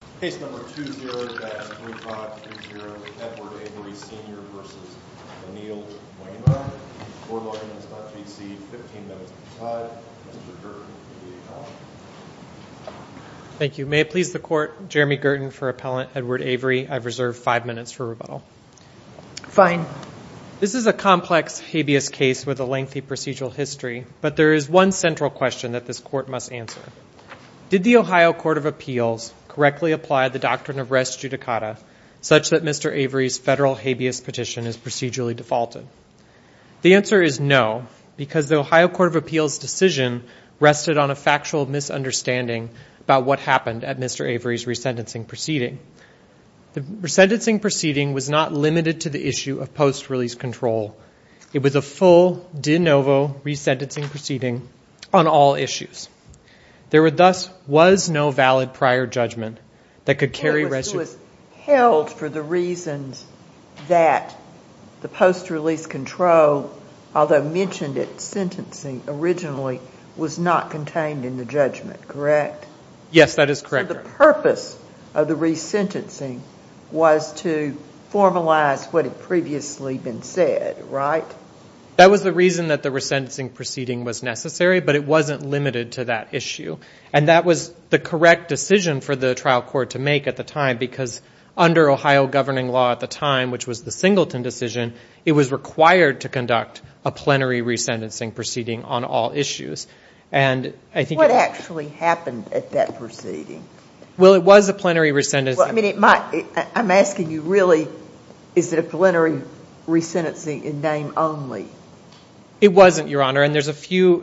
Court Logins, Part B.C., 15 minutes to the tide. Mr. Girton, A.D.A. Collin. Thank you. May it please the Court, Jeremy Girton for Appellant Edward Avery. I've reserved five minutes for rebuttal. Fine. This is a complex, habeas case with a lengthy procedural history, but there is one central question that this Court must answer. Did the Ohio Court of Appeals correctly apply the doctrine of res judicata such that Mr. Avery's federal habeas petition is procedurally defaulted? The answer is no, because the Ohio Court of Appeals decision rested on a factual misunderstanding about what happened at Mr. Avery's resentencing proceeding. The resentencing proceeding was not limited to the issue of post-release control. It was a full de novo resentencing proceeding on all issues. There thus was no valid prior judgment that could carry residue. It was held for the reasons that the post-release control, although mentioned at sentencing originally, was not contained in the judgment, correct? Yes, that is correct. However, the purpose of the resentencing was to formalize what had previously been said, right? That was the reason that the resentencing proceeding was necessary, but it wasn't limited to that issue. And that was the correct decision for the trial court to make at the time, because under Ohio governing law at the time, which was the Singleton decision, it was required to conduct a plenary resentencing proceeding on all issues. What actually happened at that proceeding? Well, it was a plenary resentencing. I'm asking you, really, is it a plenary resentencing in name only? It wasn't, Your Honor, and there's a few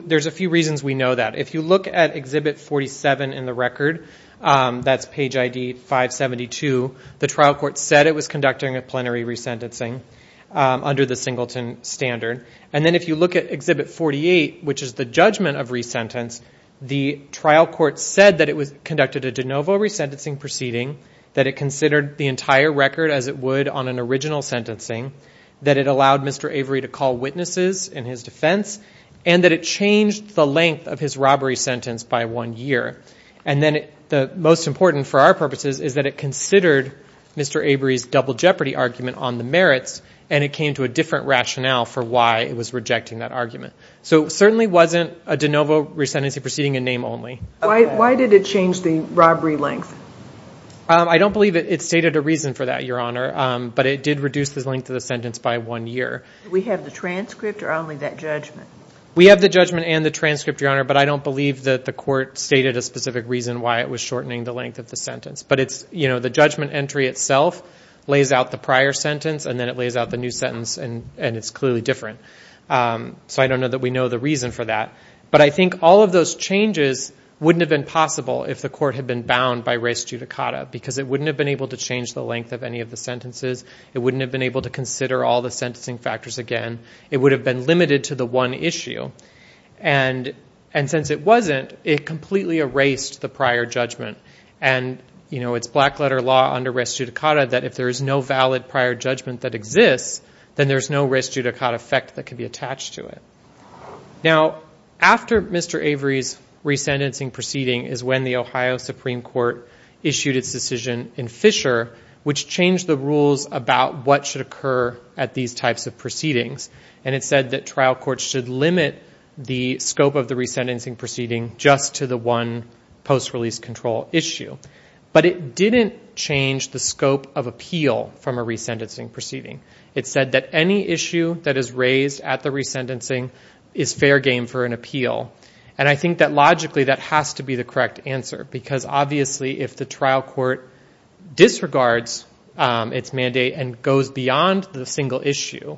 reasons we know that. If you look at Exhibit 47 in the record, that's page ID 572, the trial court said it was conducting a plenary resentencing under the Singleton standard. And then if you look at Exhibit 48, which is the judgment of resentence, the trial court said that it conducted a de novo resentencing proceeding, that it considered the entire record as it would on an original sentencing, that it allowed Mr. Avery to call witnesses in his defense, and that it changed the length of his robbery sentence by one year. And then the most important, for our purposes, is that it considered Mr. Avery's double jeopardy argument on the merits, and it came to a different rationale for why it was rejecting that argument. So it certainly wasn't a de novo resentencing proceeding in name only. Why did it change the robbery length? I don't believe it stated a reason for that, Your Honor, but it did reduce the length of the sentence by one year. Did we have the transcript or only that judgment? We have the judgment and the transcript, Your Honor, but I don't believe that the court stated a specific reason why it was shortening the length of the sentence. But the judgment entry itself lays out the prior sentence, and then it lays out the new sentence, and it's clearly different. So I don't know that we know the reason for that. But I think all of those changes wouldn't have been possible if the court had been bound by res judicata because it wouldn't have been able to change the length of any of the sentences. It wouldn't have been able to consider all the sentencing factors again. It would have been limited to the one issue. And since it wasn't, it completely erased the prior judgment. And, you know, it's black-letter law under res judicata that if there is no valid prior judgment that exists, then there's no res judicata effect that can be attached to it. Now, after Mr. Avery's resentencing proceeding is when the Ohio Supreme Court issued its decision in Fisher, which changed the rules about what should occur at these types of proceedings. And it said that trial courts should limit the scope of the resentencing proceeding just to the one post-release control issue. But it didn't change the scope of appeal from a resentencing proceeding. It said that any issue that is raised at the resentencing is fair game for an appeal. And I think that logically that has to be the correct answer because, obviously, if the trial court disregards its mandate and goes beyond the single issue,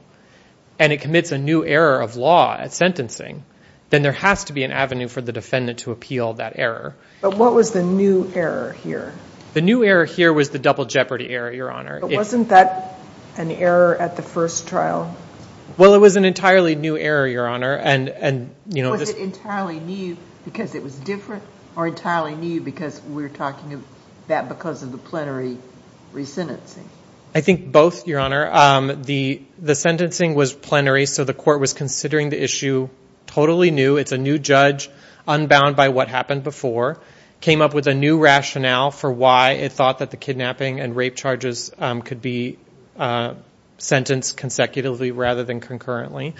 and it commits a new error of law at sentencing, then there has to be an avenue for the defendant to appeal that error. But what was the new error here? The new error here was the double jeopardy error, Your Honor. But wasn't that an error at the first trial? Well, it was an entirely new error, Your Honor. Was it entirely new because it was different or entirely new because we're talking about because of the plenary resentencing? I think both, Your Honor. The sentencing was plenary, so the court was considering the issue totally new. It's a new judge, unbound by what happened before, came up with a new rationale for why it thought that the kidnapping and rape charges could be sentenced consecutively rather than concurrently.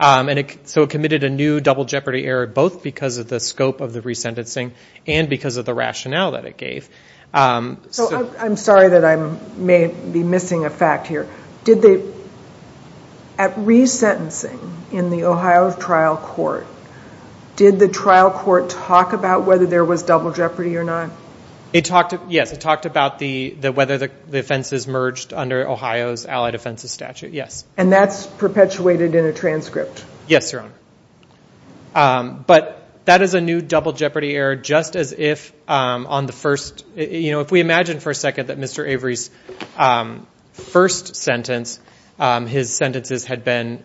So it committed a new double jeopardy error both because of the scope of the resentencing and because of the rationale that it gave. I'm sorry that I may be missing a fact here. At resentencing in the Ohio trial court, did the trial court talk about whether there was double jeopardy or not? Yes, it talked about whether the offenses merged under Ohio's allied offenses statute, yes. And that's perpetuated in a transcript? Yes, Your Honor. But that is a new double jeopardy error just as if on the first, you know, if we imagine for a second that Mr. Avery's first sentence, his sentences had been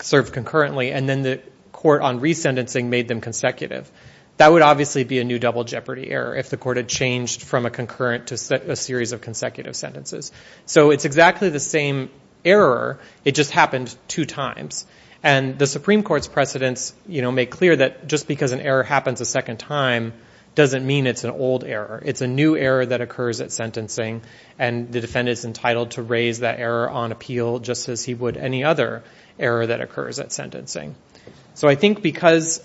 served concurrently, and then the court on resentencing made them consecutive, that would obviously be a new double jeopardy error if the court had changed from a concurrent to a series of consecutive sentences. So it's exactly the same error, it just happened two times. And the Supreme Court's precedents make clear that just because an error happens a second time doesn't mean it's an old error. It's a new error that occurs at sentencing, and the defendant is entitled to raise that error on appeal just as he would any other error that occurs at sentencing. So I think because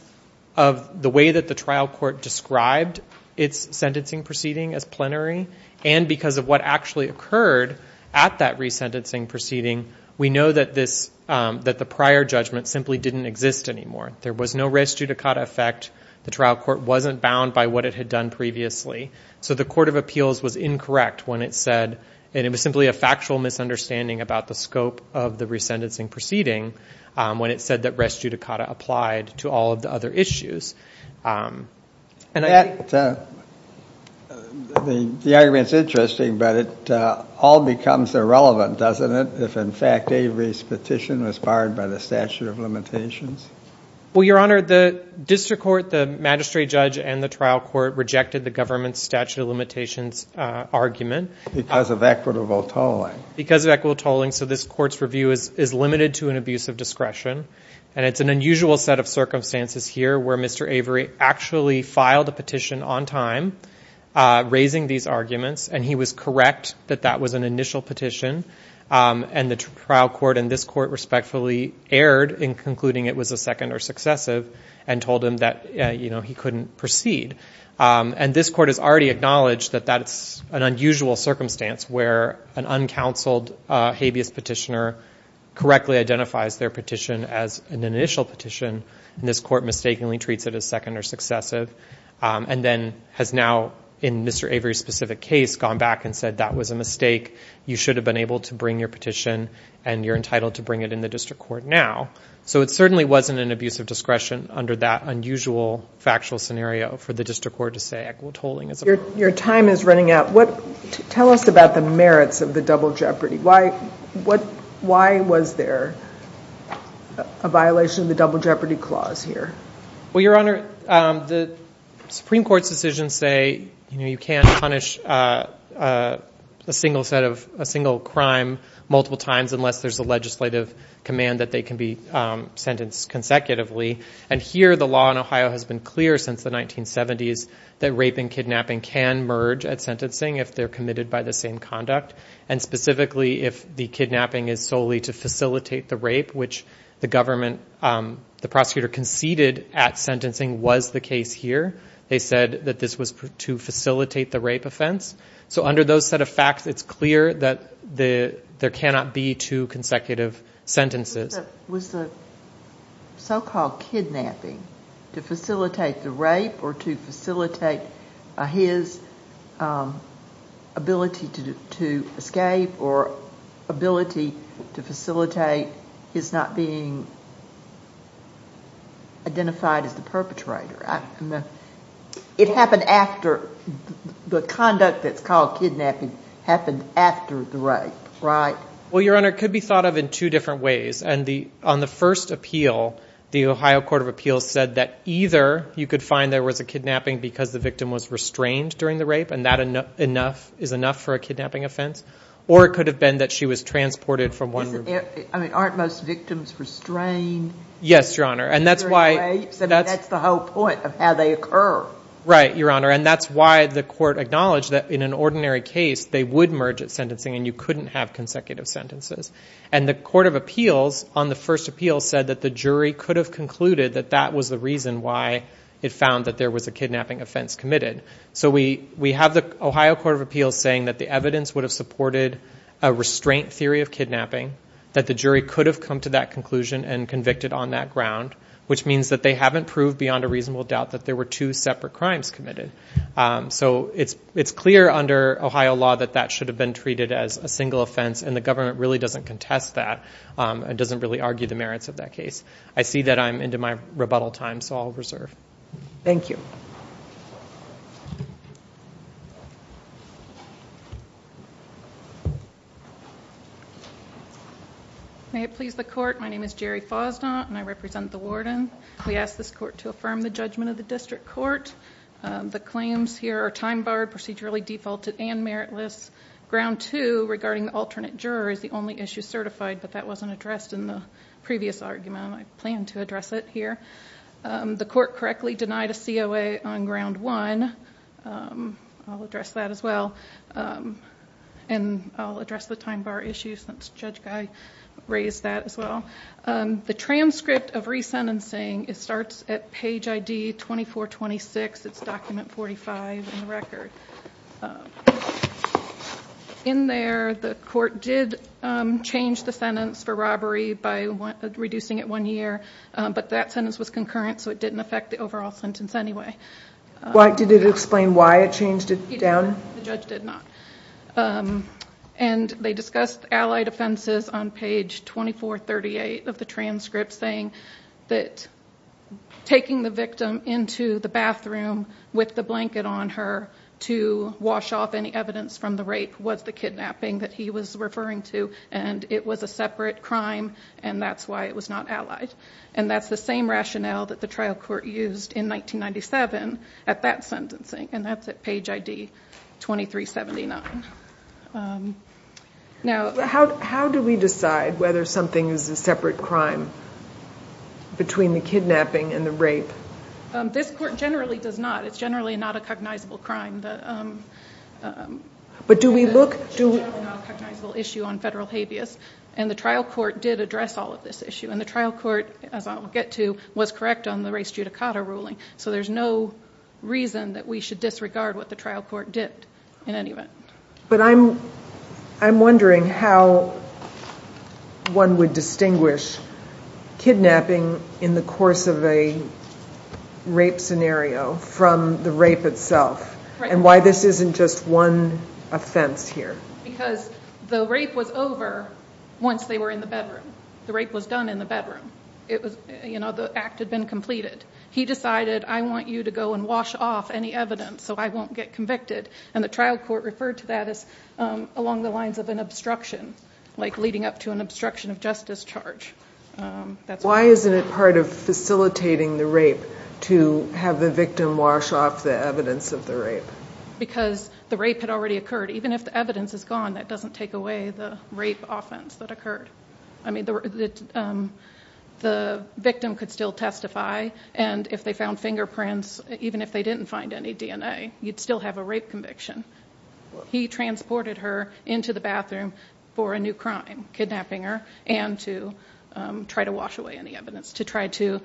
of the way that the trial court described its sentencing proceeding as plenary and because of what actually occurred at that resentencing proceeding, we know that the prior judgment simply didn't exist anymore. There was no res judicata effect. The trial court wasn't bound by what it had done previously. So the court of appeals was incorrect when it said, and it was simply a factual misunderstanding about the scope of the resentencing proceeding, when it said that res judicata applied to all of the other issues. The argument's interesting, but it all becomes irrelevant, doesn't it, if in fact Avery's petition was barred by the statute of limitations? Well, Your Honor, the district court, the magistrate judge, and the trial court rejected the government's statute of limitations argument. Because of equitable tolling. Because of equitable tolling. So this court's review is limited to an abuse of discretion, and it's an unusual set of circumstances here where Mr. Avery actually filed a petition on time, raising these arguments, and he was correct that that was an initial petition, and the trial court and this court respectfully erred in concluding it was a second or successive and told him that he couldn't proceed. And this court has already acknowledged that that's an unusual circumstance where an uncounseled habeas petitioner correctly identifies their petition as an initial petition, and this court mistakenly treats it as second or successive, and then has now, in Mr. Avery's specific case, gone back and said, that was a mistake, you should have been able to bring your petition, and you're entitled to bring it in the district court now. So it certainly wasn't an abuse of discretion under that unusual factual scenario for the district court to say equitable tolling is a problem. Your time is running out. Tell us about the merits of the double jeopardy. Why was there a violation of the double jeopardy clause here? Well, Your Honor, the Supreme Court's decisions say you can't punish a single crime multiple times unless there's a legislative command that they can be sentenced consecutively, and here the law in Ohio has been clear since the 1970s that rape and kidnapping can merge at sentencing if they're committed by the same conduct, and specifically if the kidnapping is solely to facilitate the rape, which the prosecutor conceded at sentencing was the case here. They said that this was to facilitate the rape offense. So under those set of facts, it's clear that there cannot be two consecutive sentences. Was the so-called kidnapping to facilitate the rape or to facilitate his ability to escape or ability to facilitate his not being identified as the perpetrator? It happened after the conduct that's called kidnapping happened after the rape, right? Well, Your Honor, it could be thought of in two different ways. On the first appeal, the Ohio Court of Appeals said that either you could find there was a kidnapping because the victim was restrained during the rape and that is enough for a kidnapping offense, or it could have been that she was transported from one room to the other. I mean, aren't most victims restrained during rapes? Yes, Your Honor, and that's why— I mean, that's the whole point of how they occur. Right, Your Honor, and that's why the court acknowledged that in an ordinary case, they would merge at sentencing and you couldn't have consecutive sentences. And the Court of Appeals on the first appeal said that the jury could have concluded that that was the reason why it found that there was a kidnapping offense committed. So we have the Ohio Court of Appeals saying that the evidence would have supported a restraint theory of kidnapping, that the jury could have come to that conclusion and convicted on that ground, which means that they haven't proved beyond a reasonable doubt that there were two separate crimes committed. So it's clear under Ohio law that that should have been treated as a single offense and the government really doesn't contest that and doesn't really argue the merits of that case. I see that I'm into my rebuttal time, so I'll reserve. Thank you. May it please the Court, my name is Jerry Fosnaught and I represent the warden. We ask this court to affirm the judgment of the district court. The claims here are time-barred, procedurally defaulted, and meritless. Ground two, regarding the alternate juror, is the only issue certified, but that wasn't addressed in the previous argument and I plan to address it here. The court correctly denied a COA on ground one. I'll address that as well. And I'll address the time-bar issues since Judge Guy raised that as well. The transcript of resentencing, it starts at page ID 2426, it's document 45 in the record. In there, the court did change the sentence for robbery by reducing it one year, but that sentence was concurrent so it didn't affect the overall sentence anyway. Did it explain why it changed it down? The judge did not. And they discussed allied offenses on page 2438 of the transcript, saying that taking the victim into the bathroom with the blanket on her to wash off any evidence from the rape was the kidnapping that he was referring to and it was a separate crime and that's why it was not allied. And that's the same rationale that the trial court used in 1997 at that sentencing. And that's at page ID 2379. How do we decide whether something is a separate crime between the kidnapping and the rape? This court generally does not. It's generally not a cognizable crime. But do we look? It's generally not a cognizable issue on federal habeas and the trial court did address all of this issue. And the trial court, as I'll get to, was correct on the race judicata ruling. So there's no reason that we should disregard what the trial court did in any event. But I'm wondering how one would distinguish kidnapping in the course of a rape scenario from the rape itself and why this isn't just one offense here. Because the rape was over once they were in the bedroom. The rape was done in the bedroom. The act had been completed. He decided, I want you to go and wash off any evidence so I won't get convicted. And the trial court referred to that as along the lines of an obstruction, like leading up to an obstruction of justice charge. Why isn't it part of facilitating the rape to have the victim wash off the evidence of the rape? Because the rape had already occurred. Even if the evidence is gone, that doesn't take away the rape offense that occurred. I mean, the victim could still testify, and if they found fingerprints, even if they didn't find any DNA, you'd still have a rape conviction. He transported her into the bathroom for a new crime, kidnapping her, and to try to wash away any evidence, to try to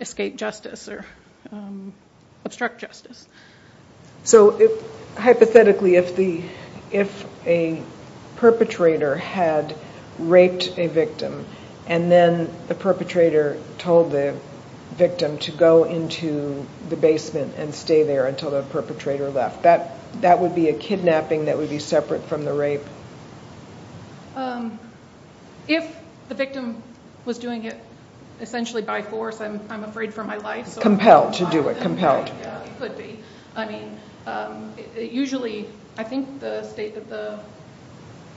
escape justice or obstruct justice. So hypothetically, if a perpetrator had raped a victim and then the perpetrator told the victim to go into the basement and stay there until the perpetrator left, that would be a kidnapping that would be separate from the rape? If the victim was doing it essentially by force, I'm afraid for my life. Compelled to do it, compelled. It could be. I mean, usually, I think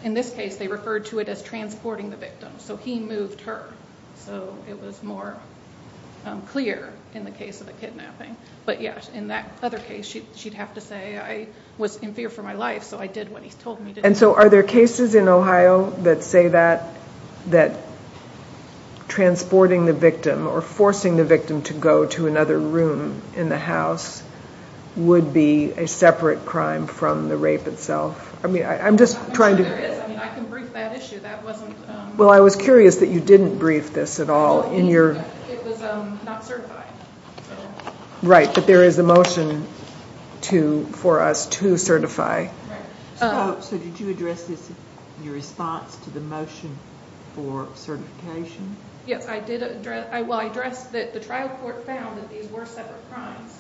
in this case they referred to it as transporting the victim, so he moved her, so it was more clear in the case of the kidnapping. But yes, in that other case, she'd have to say, I was in fear for my life, so I did what he told me to do. to go to another room in the house would be a separate crime from the rape itself? I mean, I'm just trying to— I'm sure there is. I mean, I can brief that issue. That wasn't— Well, I was curious that you didn't brief this at all in your— It was not certified. Right, but there is a motion for us to certify. So did you address this in your response to the motion for certification? Yes, I did address— Well, I addressed that the trial court found that these were separate crimes,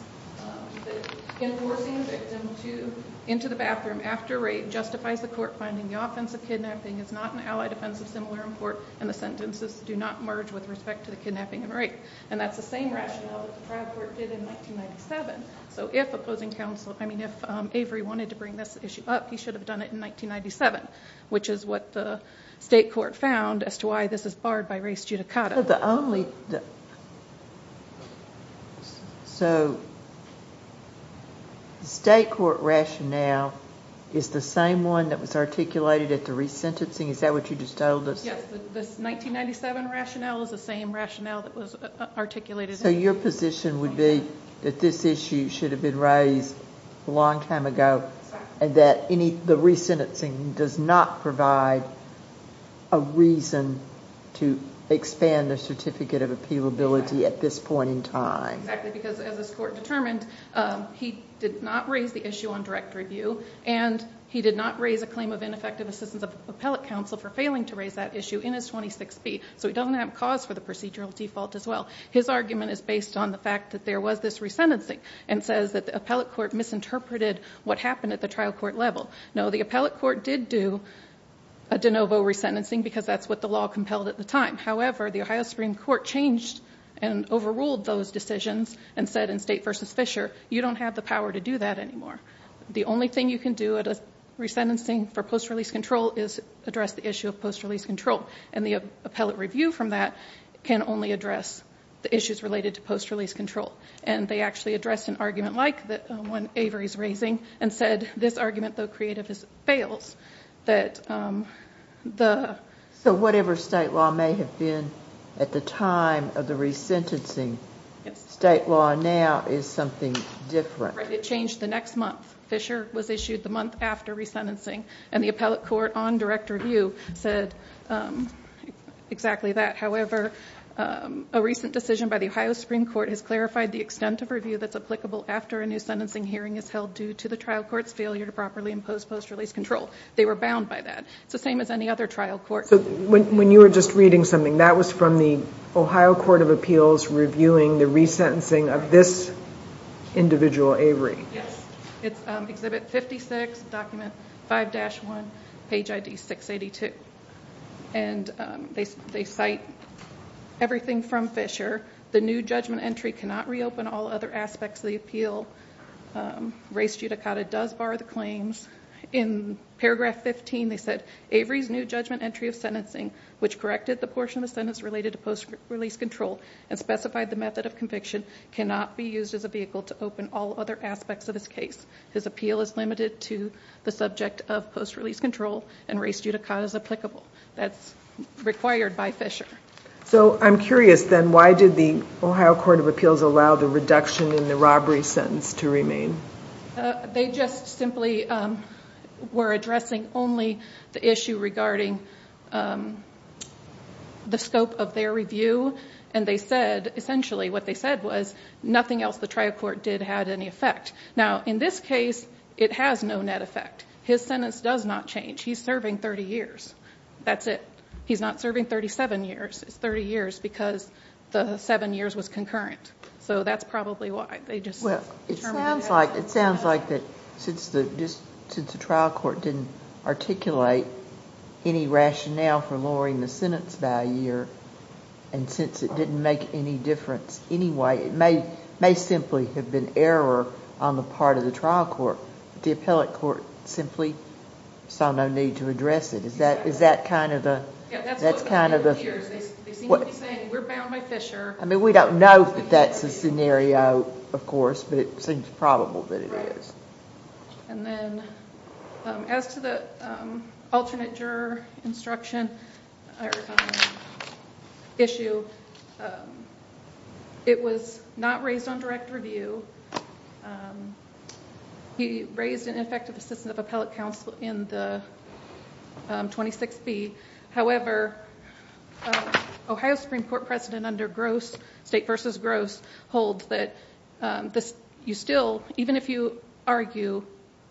that enforcing the victim into the bathroom after rape justifies the court finding the offense of kidnapping is not an allied offense of similar import and the sentences do not merge with respect to the kidnapping and rape. And that's the same rationale that the trial court did in 1997. So if opposing counsel—I mean, if Avery wanted to bring this issue up, he should have done it in 1997, which is what the state court found as to why this is barred by res judicata. The only—so the state court rationale is the same one that was articulated at the resentencing? Is that what you just told us? Yes, this 1997 rationale is the same rationale that was articulated. So your position would be that this issue should have been raised a long time ago and that the resentencing does not provide a reason to expand the certificate of appealability at this point in time. Exactly, because as this court determined, he did not raise the issue on direct review and he did not raise a claim of ineffective assistance of appellate counsel for failing to raise that issue in his 26B. So he doesn't have cause for the procedural default as well. His argument is based on the fact that there was this resentencing and says that the appellate court misinterpreted what happened at the trial court level. No, the appellate court did do a de novo resentencing because that's what the law compelled at the time. However, the Ohio Supreme Court changed and overruled those decisions and said in State v. Fisher, you don't have the power to do that anymore. The only thing you can do at a resentencing for post-release control is address the issue of post-release control, and the appellate review from that can only address the issues related to post-release control. And they actually addressed an argument like the one Avery's raising and said this argument, though creative, fails. So whatever State law may have been at the time of the resentencing, State law now is something different. It changed the next month. Fisher was issued the month after resentencing and the appellate court on direct review said exactly that. However, a recent decision by the Ohio Supreme Court has clarified the extent of review that's applicable after a new sentencing hearing is held due to the trial court's failure to properly impose post-release control. They were bound by that. It's the same as any other trial court. So when you were just reading something, that was from the Ohio Court of Appeals reviewing the resentencing of this individual, Avery. Yes. It's Exhibit 56, Document 5-1, Page ID 682. They cite everything from Fisher. The new judgment entry cannot reopen all other aspects of the appeal. Res judicata does bar the claims. In Paragraph 15, they said, Avery's new judgment entry of sentencing, which corrected the portion of the sentence related to post-release control and specified the method of conviction, cannot be used as a vehicle to open all other aspects of his case. His appeal is limited to the subject of post-release control and res judicata is applicable. That's required by Fisher. So I'm curious, then, why did the Ohio Court of Appeals allow the reduction in the robbery sentence to remain? They just simply were addressing only the issue regarding the scope of their review. And they said, essentially, what they said was, nothing else the trial court did had any effect. Now, in this case, it has no net effect. His sentence does not change. He's serving 30 years. That's it. He's not serving 37 years. It's 30 years because the seven years was concurrent. So that's probably why. Well, it sounds like that since the trial court didn't articulate any rationale for lowering the sentence value, and since it didn't make any difference anyway, it may simply have been error on the part of the trial court. Or the appellate court simply saw no need to address it. Is that kind of a... Yeah, that's what we've been hearing. They seem to be saying, we're bound by Fisher. I mean, we don't know if that's a scenario, of course, but it seems probable that it is. Right. And then, as to the alternate juror instruction issue, it was not raised on direct review. He raised an effective assistance of appellate counsel in the 26B. However, Ohio Supreme Court President under Gross, State vs. Gross, holds that you still, even if you argue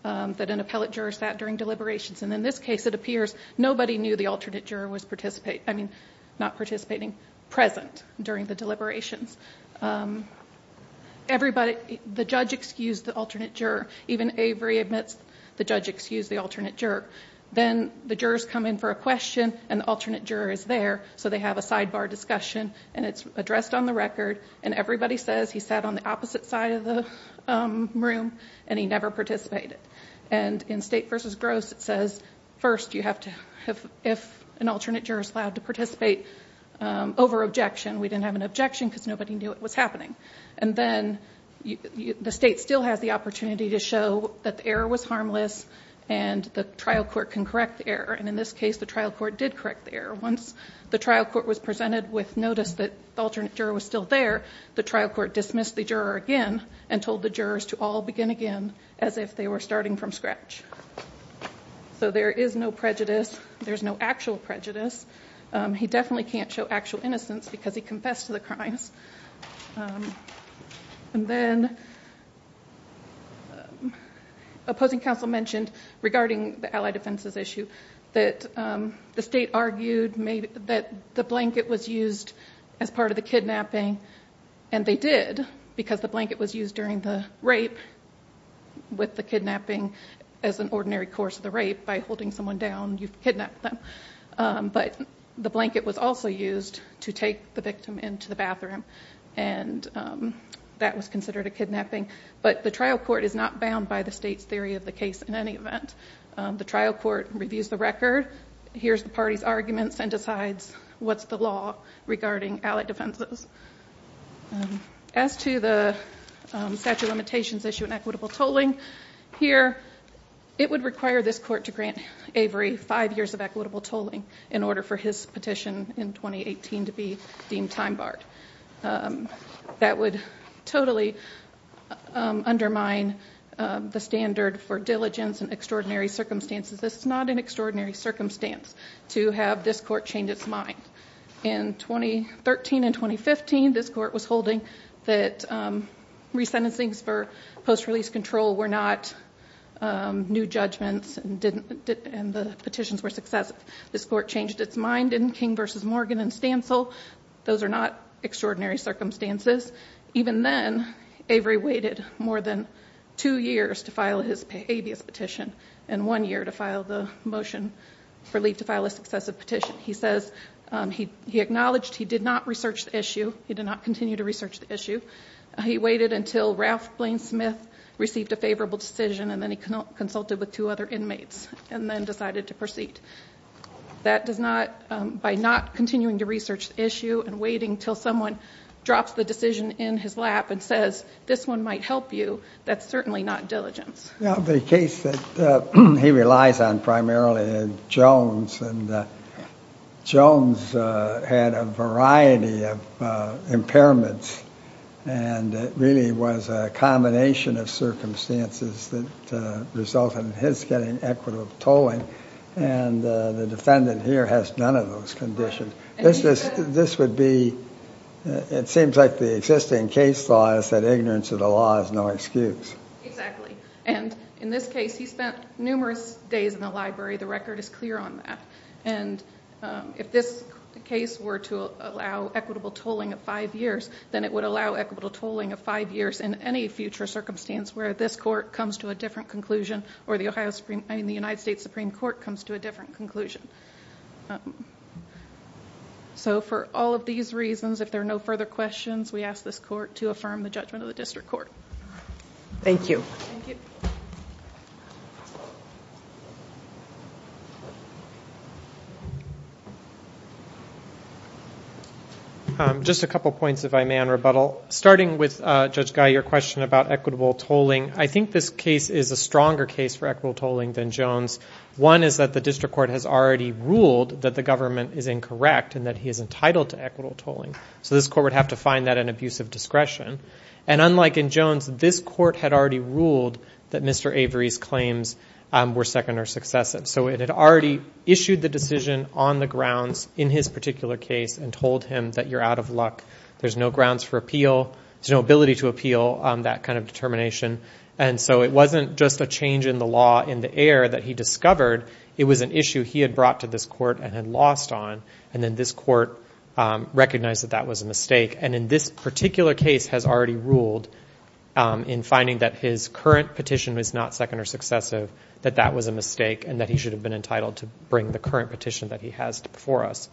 that an appellate juror sat during deliberations, and in this case, it appears, nobody knew the alternate juror was participating. I mean, not participating, present during the deliberations. The judge excused the alternate juror. Even Avery admits the judge excused the alternate juror. Then the jurors come in for a question, and the alternate juror is there, so they have a sidebar discussion, and it's addressed on the record, and everybody says he sat on the opposite side of the room, and he never participated. And in State vs. Gross, it says, first, if an alternate juror is allowed to participate over objection, we didn't have an objection because nobody knew it was happening. And then the State still has the opportunity to show that the error was harmless, and the trial court can correct the error. And in this case, the trial court did correct the error. Once the trial court was presented with notice that the alternate juror was still there, the trial court dismissed the juror again and told the jurors to all begin again as if they were starting from scratch. So there is no prejudice. There's no actual prejudice. He definitely can't show actual innocence because he confessed to the crimes. And then opposing counsel mentioned, regarding the allied offenses issue, that the State argued that the blanket was used as part of the kidnapping, and they did because the blanket was used during the rape with the kidnapping as an ordinary course of the rape by holding someone down. You've kidnapped them. But the blanket was also used to take the victim into the bathroom, and that was considered a kidnapping. But the trial court is not bound by the State's theory of the case in any event. The trial court reviews the record, hears the party's arguments, and decides what's the law regarding allied offenses. As to the statute of limitations issue and equitable tolling, here it would require this court to grant Avery five years of equitable tolling in order for his petition in 2018 to be deemed time-barred. That would totally undermine the standard for diligence and extraordinary circumstances. This is not an extraordinary circumstance to have this court change its mind. In 2013 and 2015, this court was holding that resentencings for post-release control were not new judgments and the petitions were successive. This court changed its mind in King v. Morgan and Stancil. Those are not extraordinary circumstances. Even then, Avery waited more than two years to file his habeas petition and one year to file the motion for leave to file a successive petition. He says he acknowledged he did not research the issue. He did not continue to research the issue. He waited until Ralph Blaine Smith received a favorable decision and then he consulted with two other inmates and then decided to proceed. That does not, by not continuing to research the issue and waiting until someone drops the decision in his lap and says, this one might help you, that's certainly not diligence. The case that he relies on primarily is Jones. Jones had a variety of impairments and it really was a combination of circumstances that resulted in his getting equitable tolling and the defendant here has none of those conditions. This would be, it seems like the existing case law is that ignorance of the law is no excuse. Exactly, and in this case, he spent numerous days in the library. The record is clear on that. If this case were to allow equitable tolling of five years, then it would allow equitable tolling of five years in any future circumstance where this court comes to a different conclusion or the United States Supreme Court comes to a different conclusion. For all of these reasons, if there are no further questions, we ask this court to affirm the judgment of the district court. Thank you. Just a couple of points, if I may, on rebuttal. Starting with Judge Guy, your question about equitable tolling, I think this case is a stronger case for equitable tolling than Jones. One is that the district court has already ruled that the government is incorrect and that he is entitled to equitable tolling, so this court would have to find that an abuse of discretion. And unlike in Jones, this court had already ruled that Mr. Avery's claims were second or successive, so it had already issued the decision on the grounds in his particular case and told him that you're out of luck. There's no grounds for appeal. There's no ability to appeal that kind of determination, and so it wasn't just a change in the law in the air that he discovered. It was an issue he had brought to this court and had lost on, and then this court recognized that that was a mistake, and in this particular case has already ruled in finding that his current petition was not second or successive, that that was a mistake and that he should have been entitled to bring the current petition that he has before us.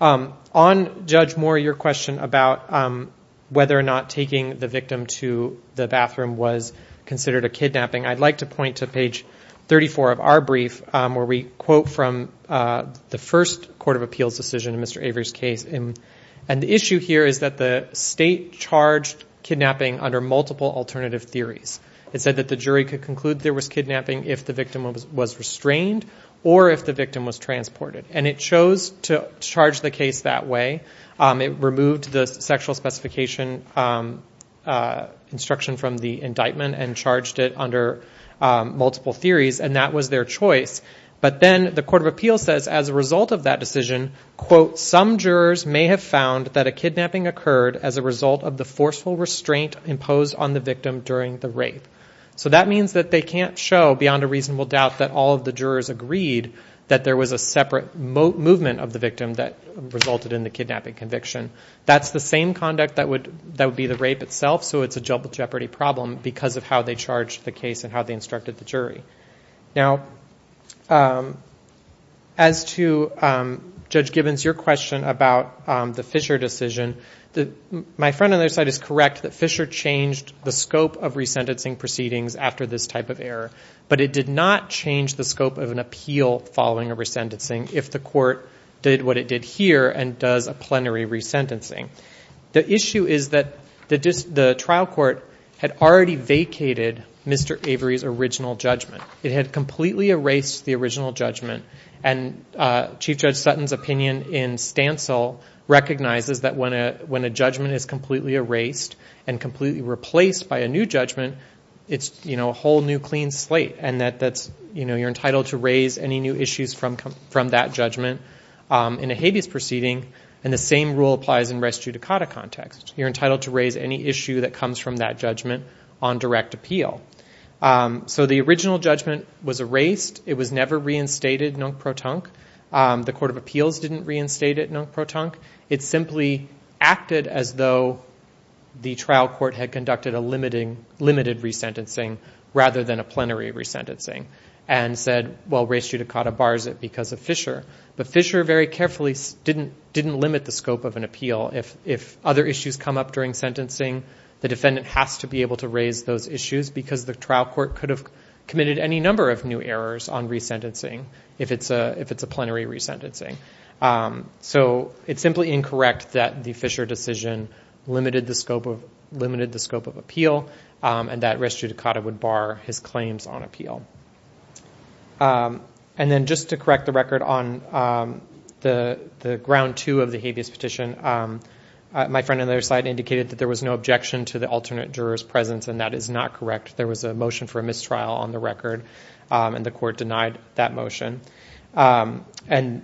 On Judge Moore, your question about whether or not taking the victim to the bathroom was considered a kidnapping, I'd like to point to page 34 of our brief where we quote from the first court of appeals decision in Mr. Avery's case. The issue here is that the state charged kidnapping under multiple alternative theories. It said that the jury could conclude there was kidnapping if the victim was restrained or if the victim was transported, and it chose to charge the case that way. It removed the sexual specification instruction from the indictment and charged it under multiple theories, and that was their choice, but then the court of appeals says as a result of that decision, quote, some jurors may have found that a kidnapping occurred as a result of the forceful restraint imposed on the victim during the rape. So that means that they can't show beyond a reasonable doubt that all of the jurors agreed that there was a separate movement of the victim that resulted in the kidnapping conviction. That's the same conduct that would be the rape itself, so it's a double jeopardy problem because of how they charged the case and how they instructed the jury. Now, as to Judge Gibbons, your question about the Fisher decision, my friend on the other side is correct that Fisher changed the scope of resentencing proceedings after this type of error, but it did not change the scope of an appeal following a resentencing if the court did what it did here and does a plenary resentencing. The issue is that the trial court had already vacated Mr. Avery's original judgment. It had completely erased the original judgment, and Chief Judge Sutton's opinion in Stancil recognizes that when a judgment is completely erased and completely replaced by a new judgment, it's a whole new clean slate and that you're entitled to raise any new issues from that judgment in a habeas proceeding, and the same rule applies in res judicata context. You're entitled to raise any issue that comes from that judgment on direct appeal. So the original judgment was erased. It was never reinstated non-protonque. The Court of Appeals didn't reinstate it non-protonque. It simply acted as though the trial court had conducted a limited resentencing rather than a plenary resentencing and said, well, res judicata bars it because of Fisher. But Fisher very carefully didn't limit the scope of an appeal. If other issues come up during sentencing, the defendant has to be able to raise those issues because the trial court could have committed any number of new errors on resentencing if it's a plenary resentencing. So it's simply incorrect that the Fisher decision limited the scope of appeal and that res judicata would bar his claims on appeal. And then just to correct the record on the ground two of the habeas petition, my friend on the other side indicated that there was no objection to the alternate juror's presence, and that is not correct. There was a motion for a mistrial on the record, and the Court denied that motion. And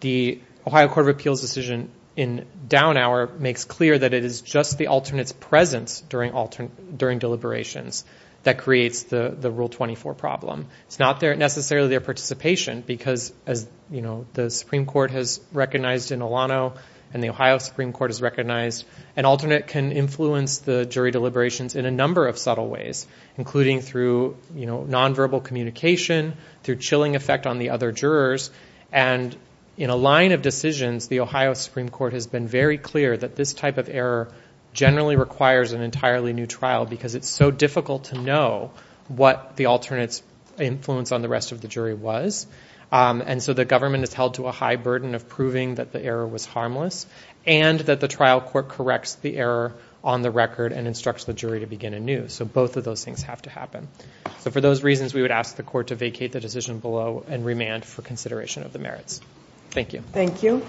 the Ohio Court of Appeals' decision in down hour makes clear that it is just the alternate's presence during deliberations that creates the Rule 24 problem. It's not necessarily their participation because as the Supreme Court has recognized in Olano and the Ohio Supreme Court has recognized, an alternate can influence the jury deliberations in a number of subtle ways, including through nonverbal communication, through chilling effect on the other jurors. And in a line of decisions, the Ohio Supreme Court has been very clear that this type of error generally requires an entirely new trial because it's so difficult to know what the alternate's influence on the rest of the jury was. And so the government is held to a high burden of proving that the error was harmless and that the trial court corrects the error on the record and instructs the jury to begin anew. So both of those things have to happen. So for those reasons, we would ask the Court to vacate the decision below and remand for consideration of the merits. Thank you. Thank you.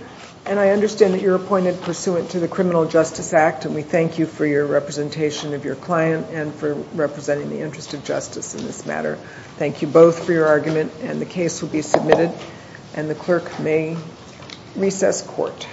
And I understand that you're appointed pursuant to the Criminal Justice Act, and we thank you for your representation of your client and for representing the interest of justice in this matter. Thank you both for your argument, and the case will be submitted, and the clerk may recess court.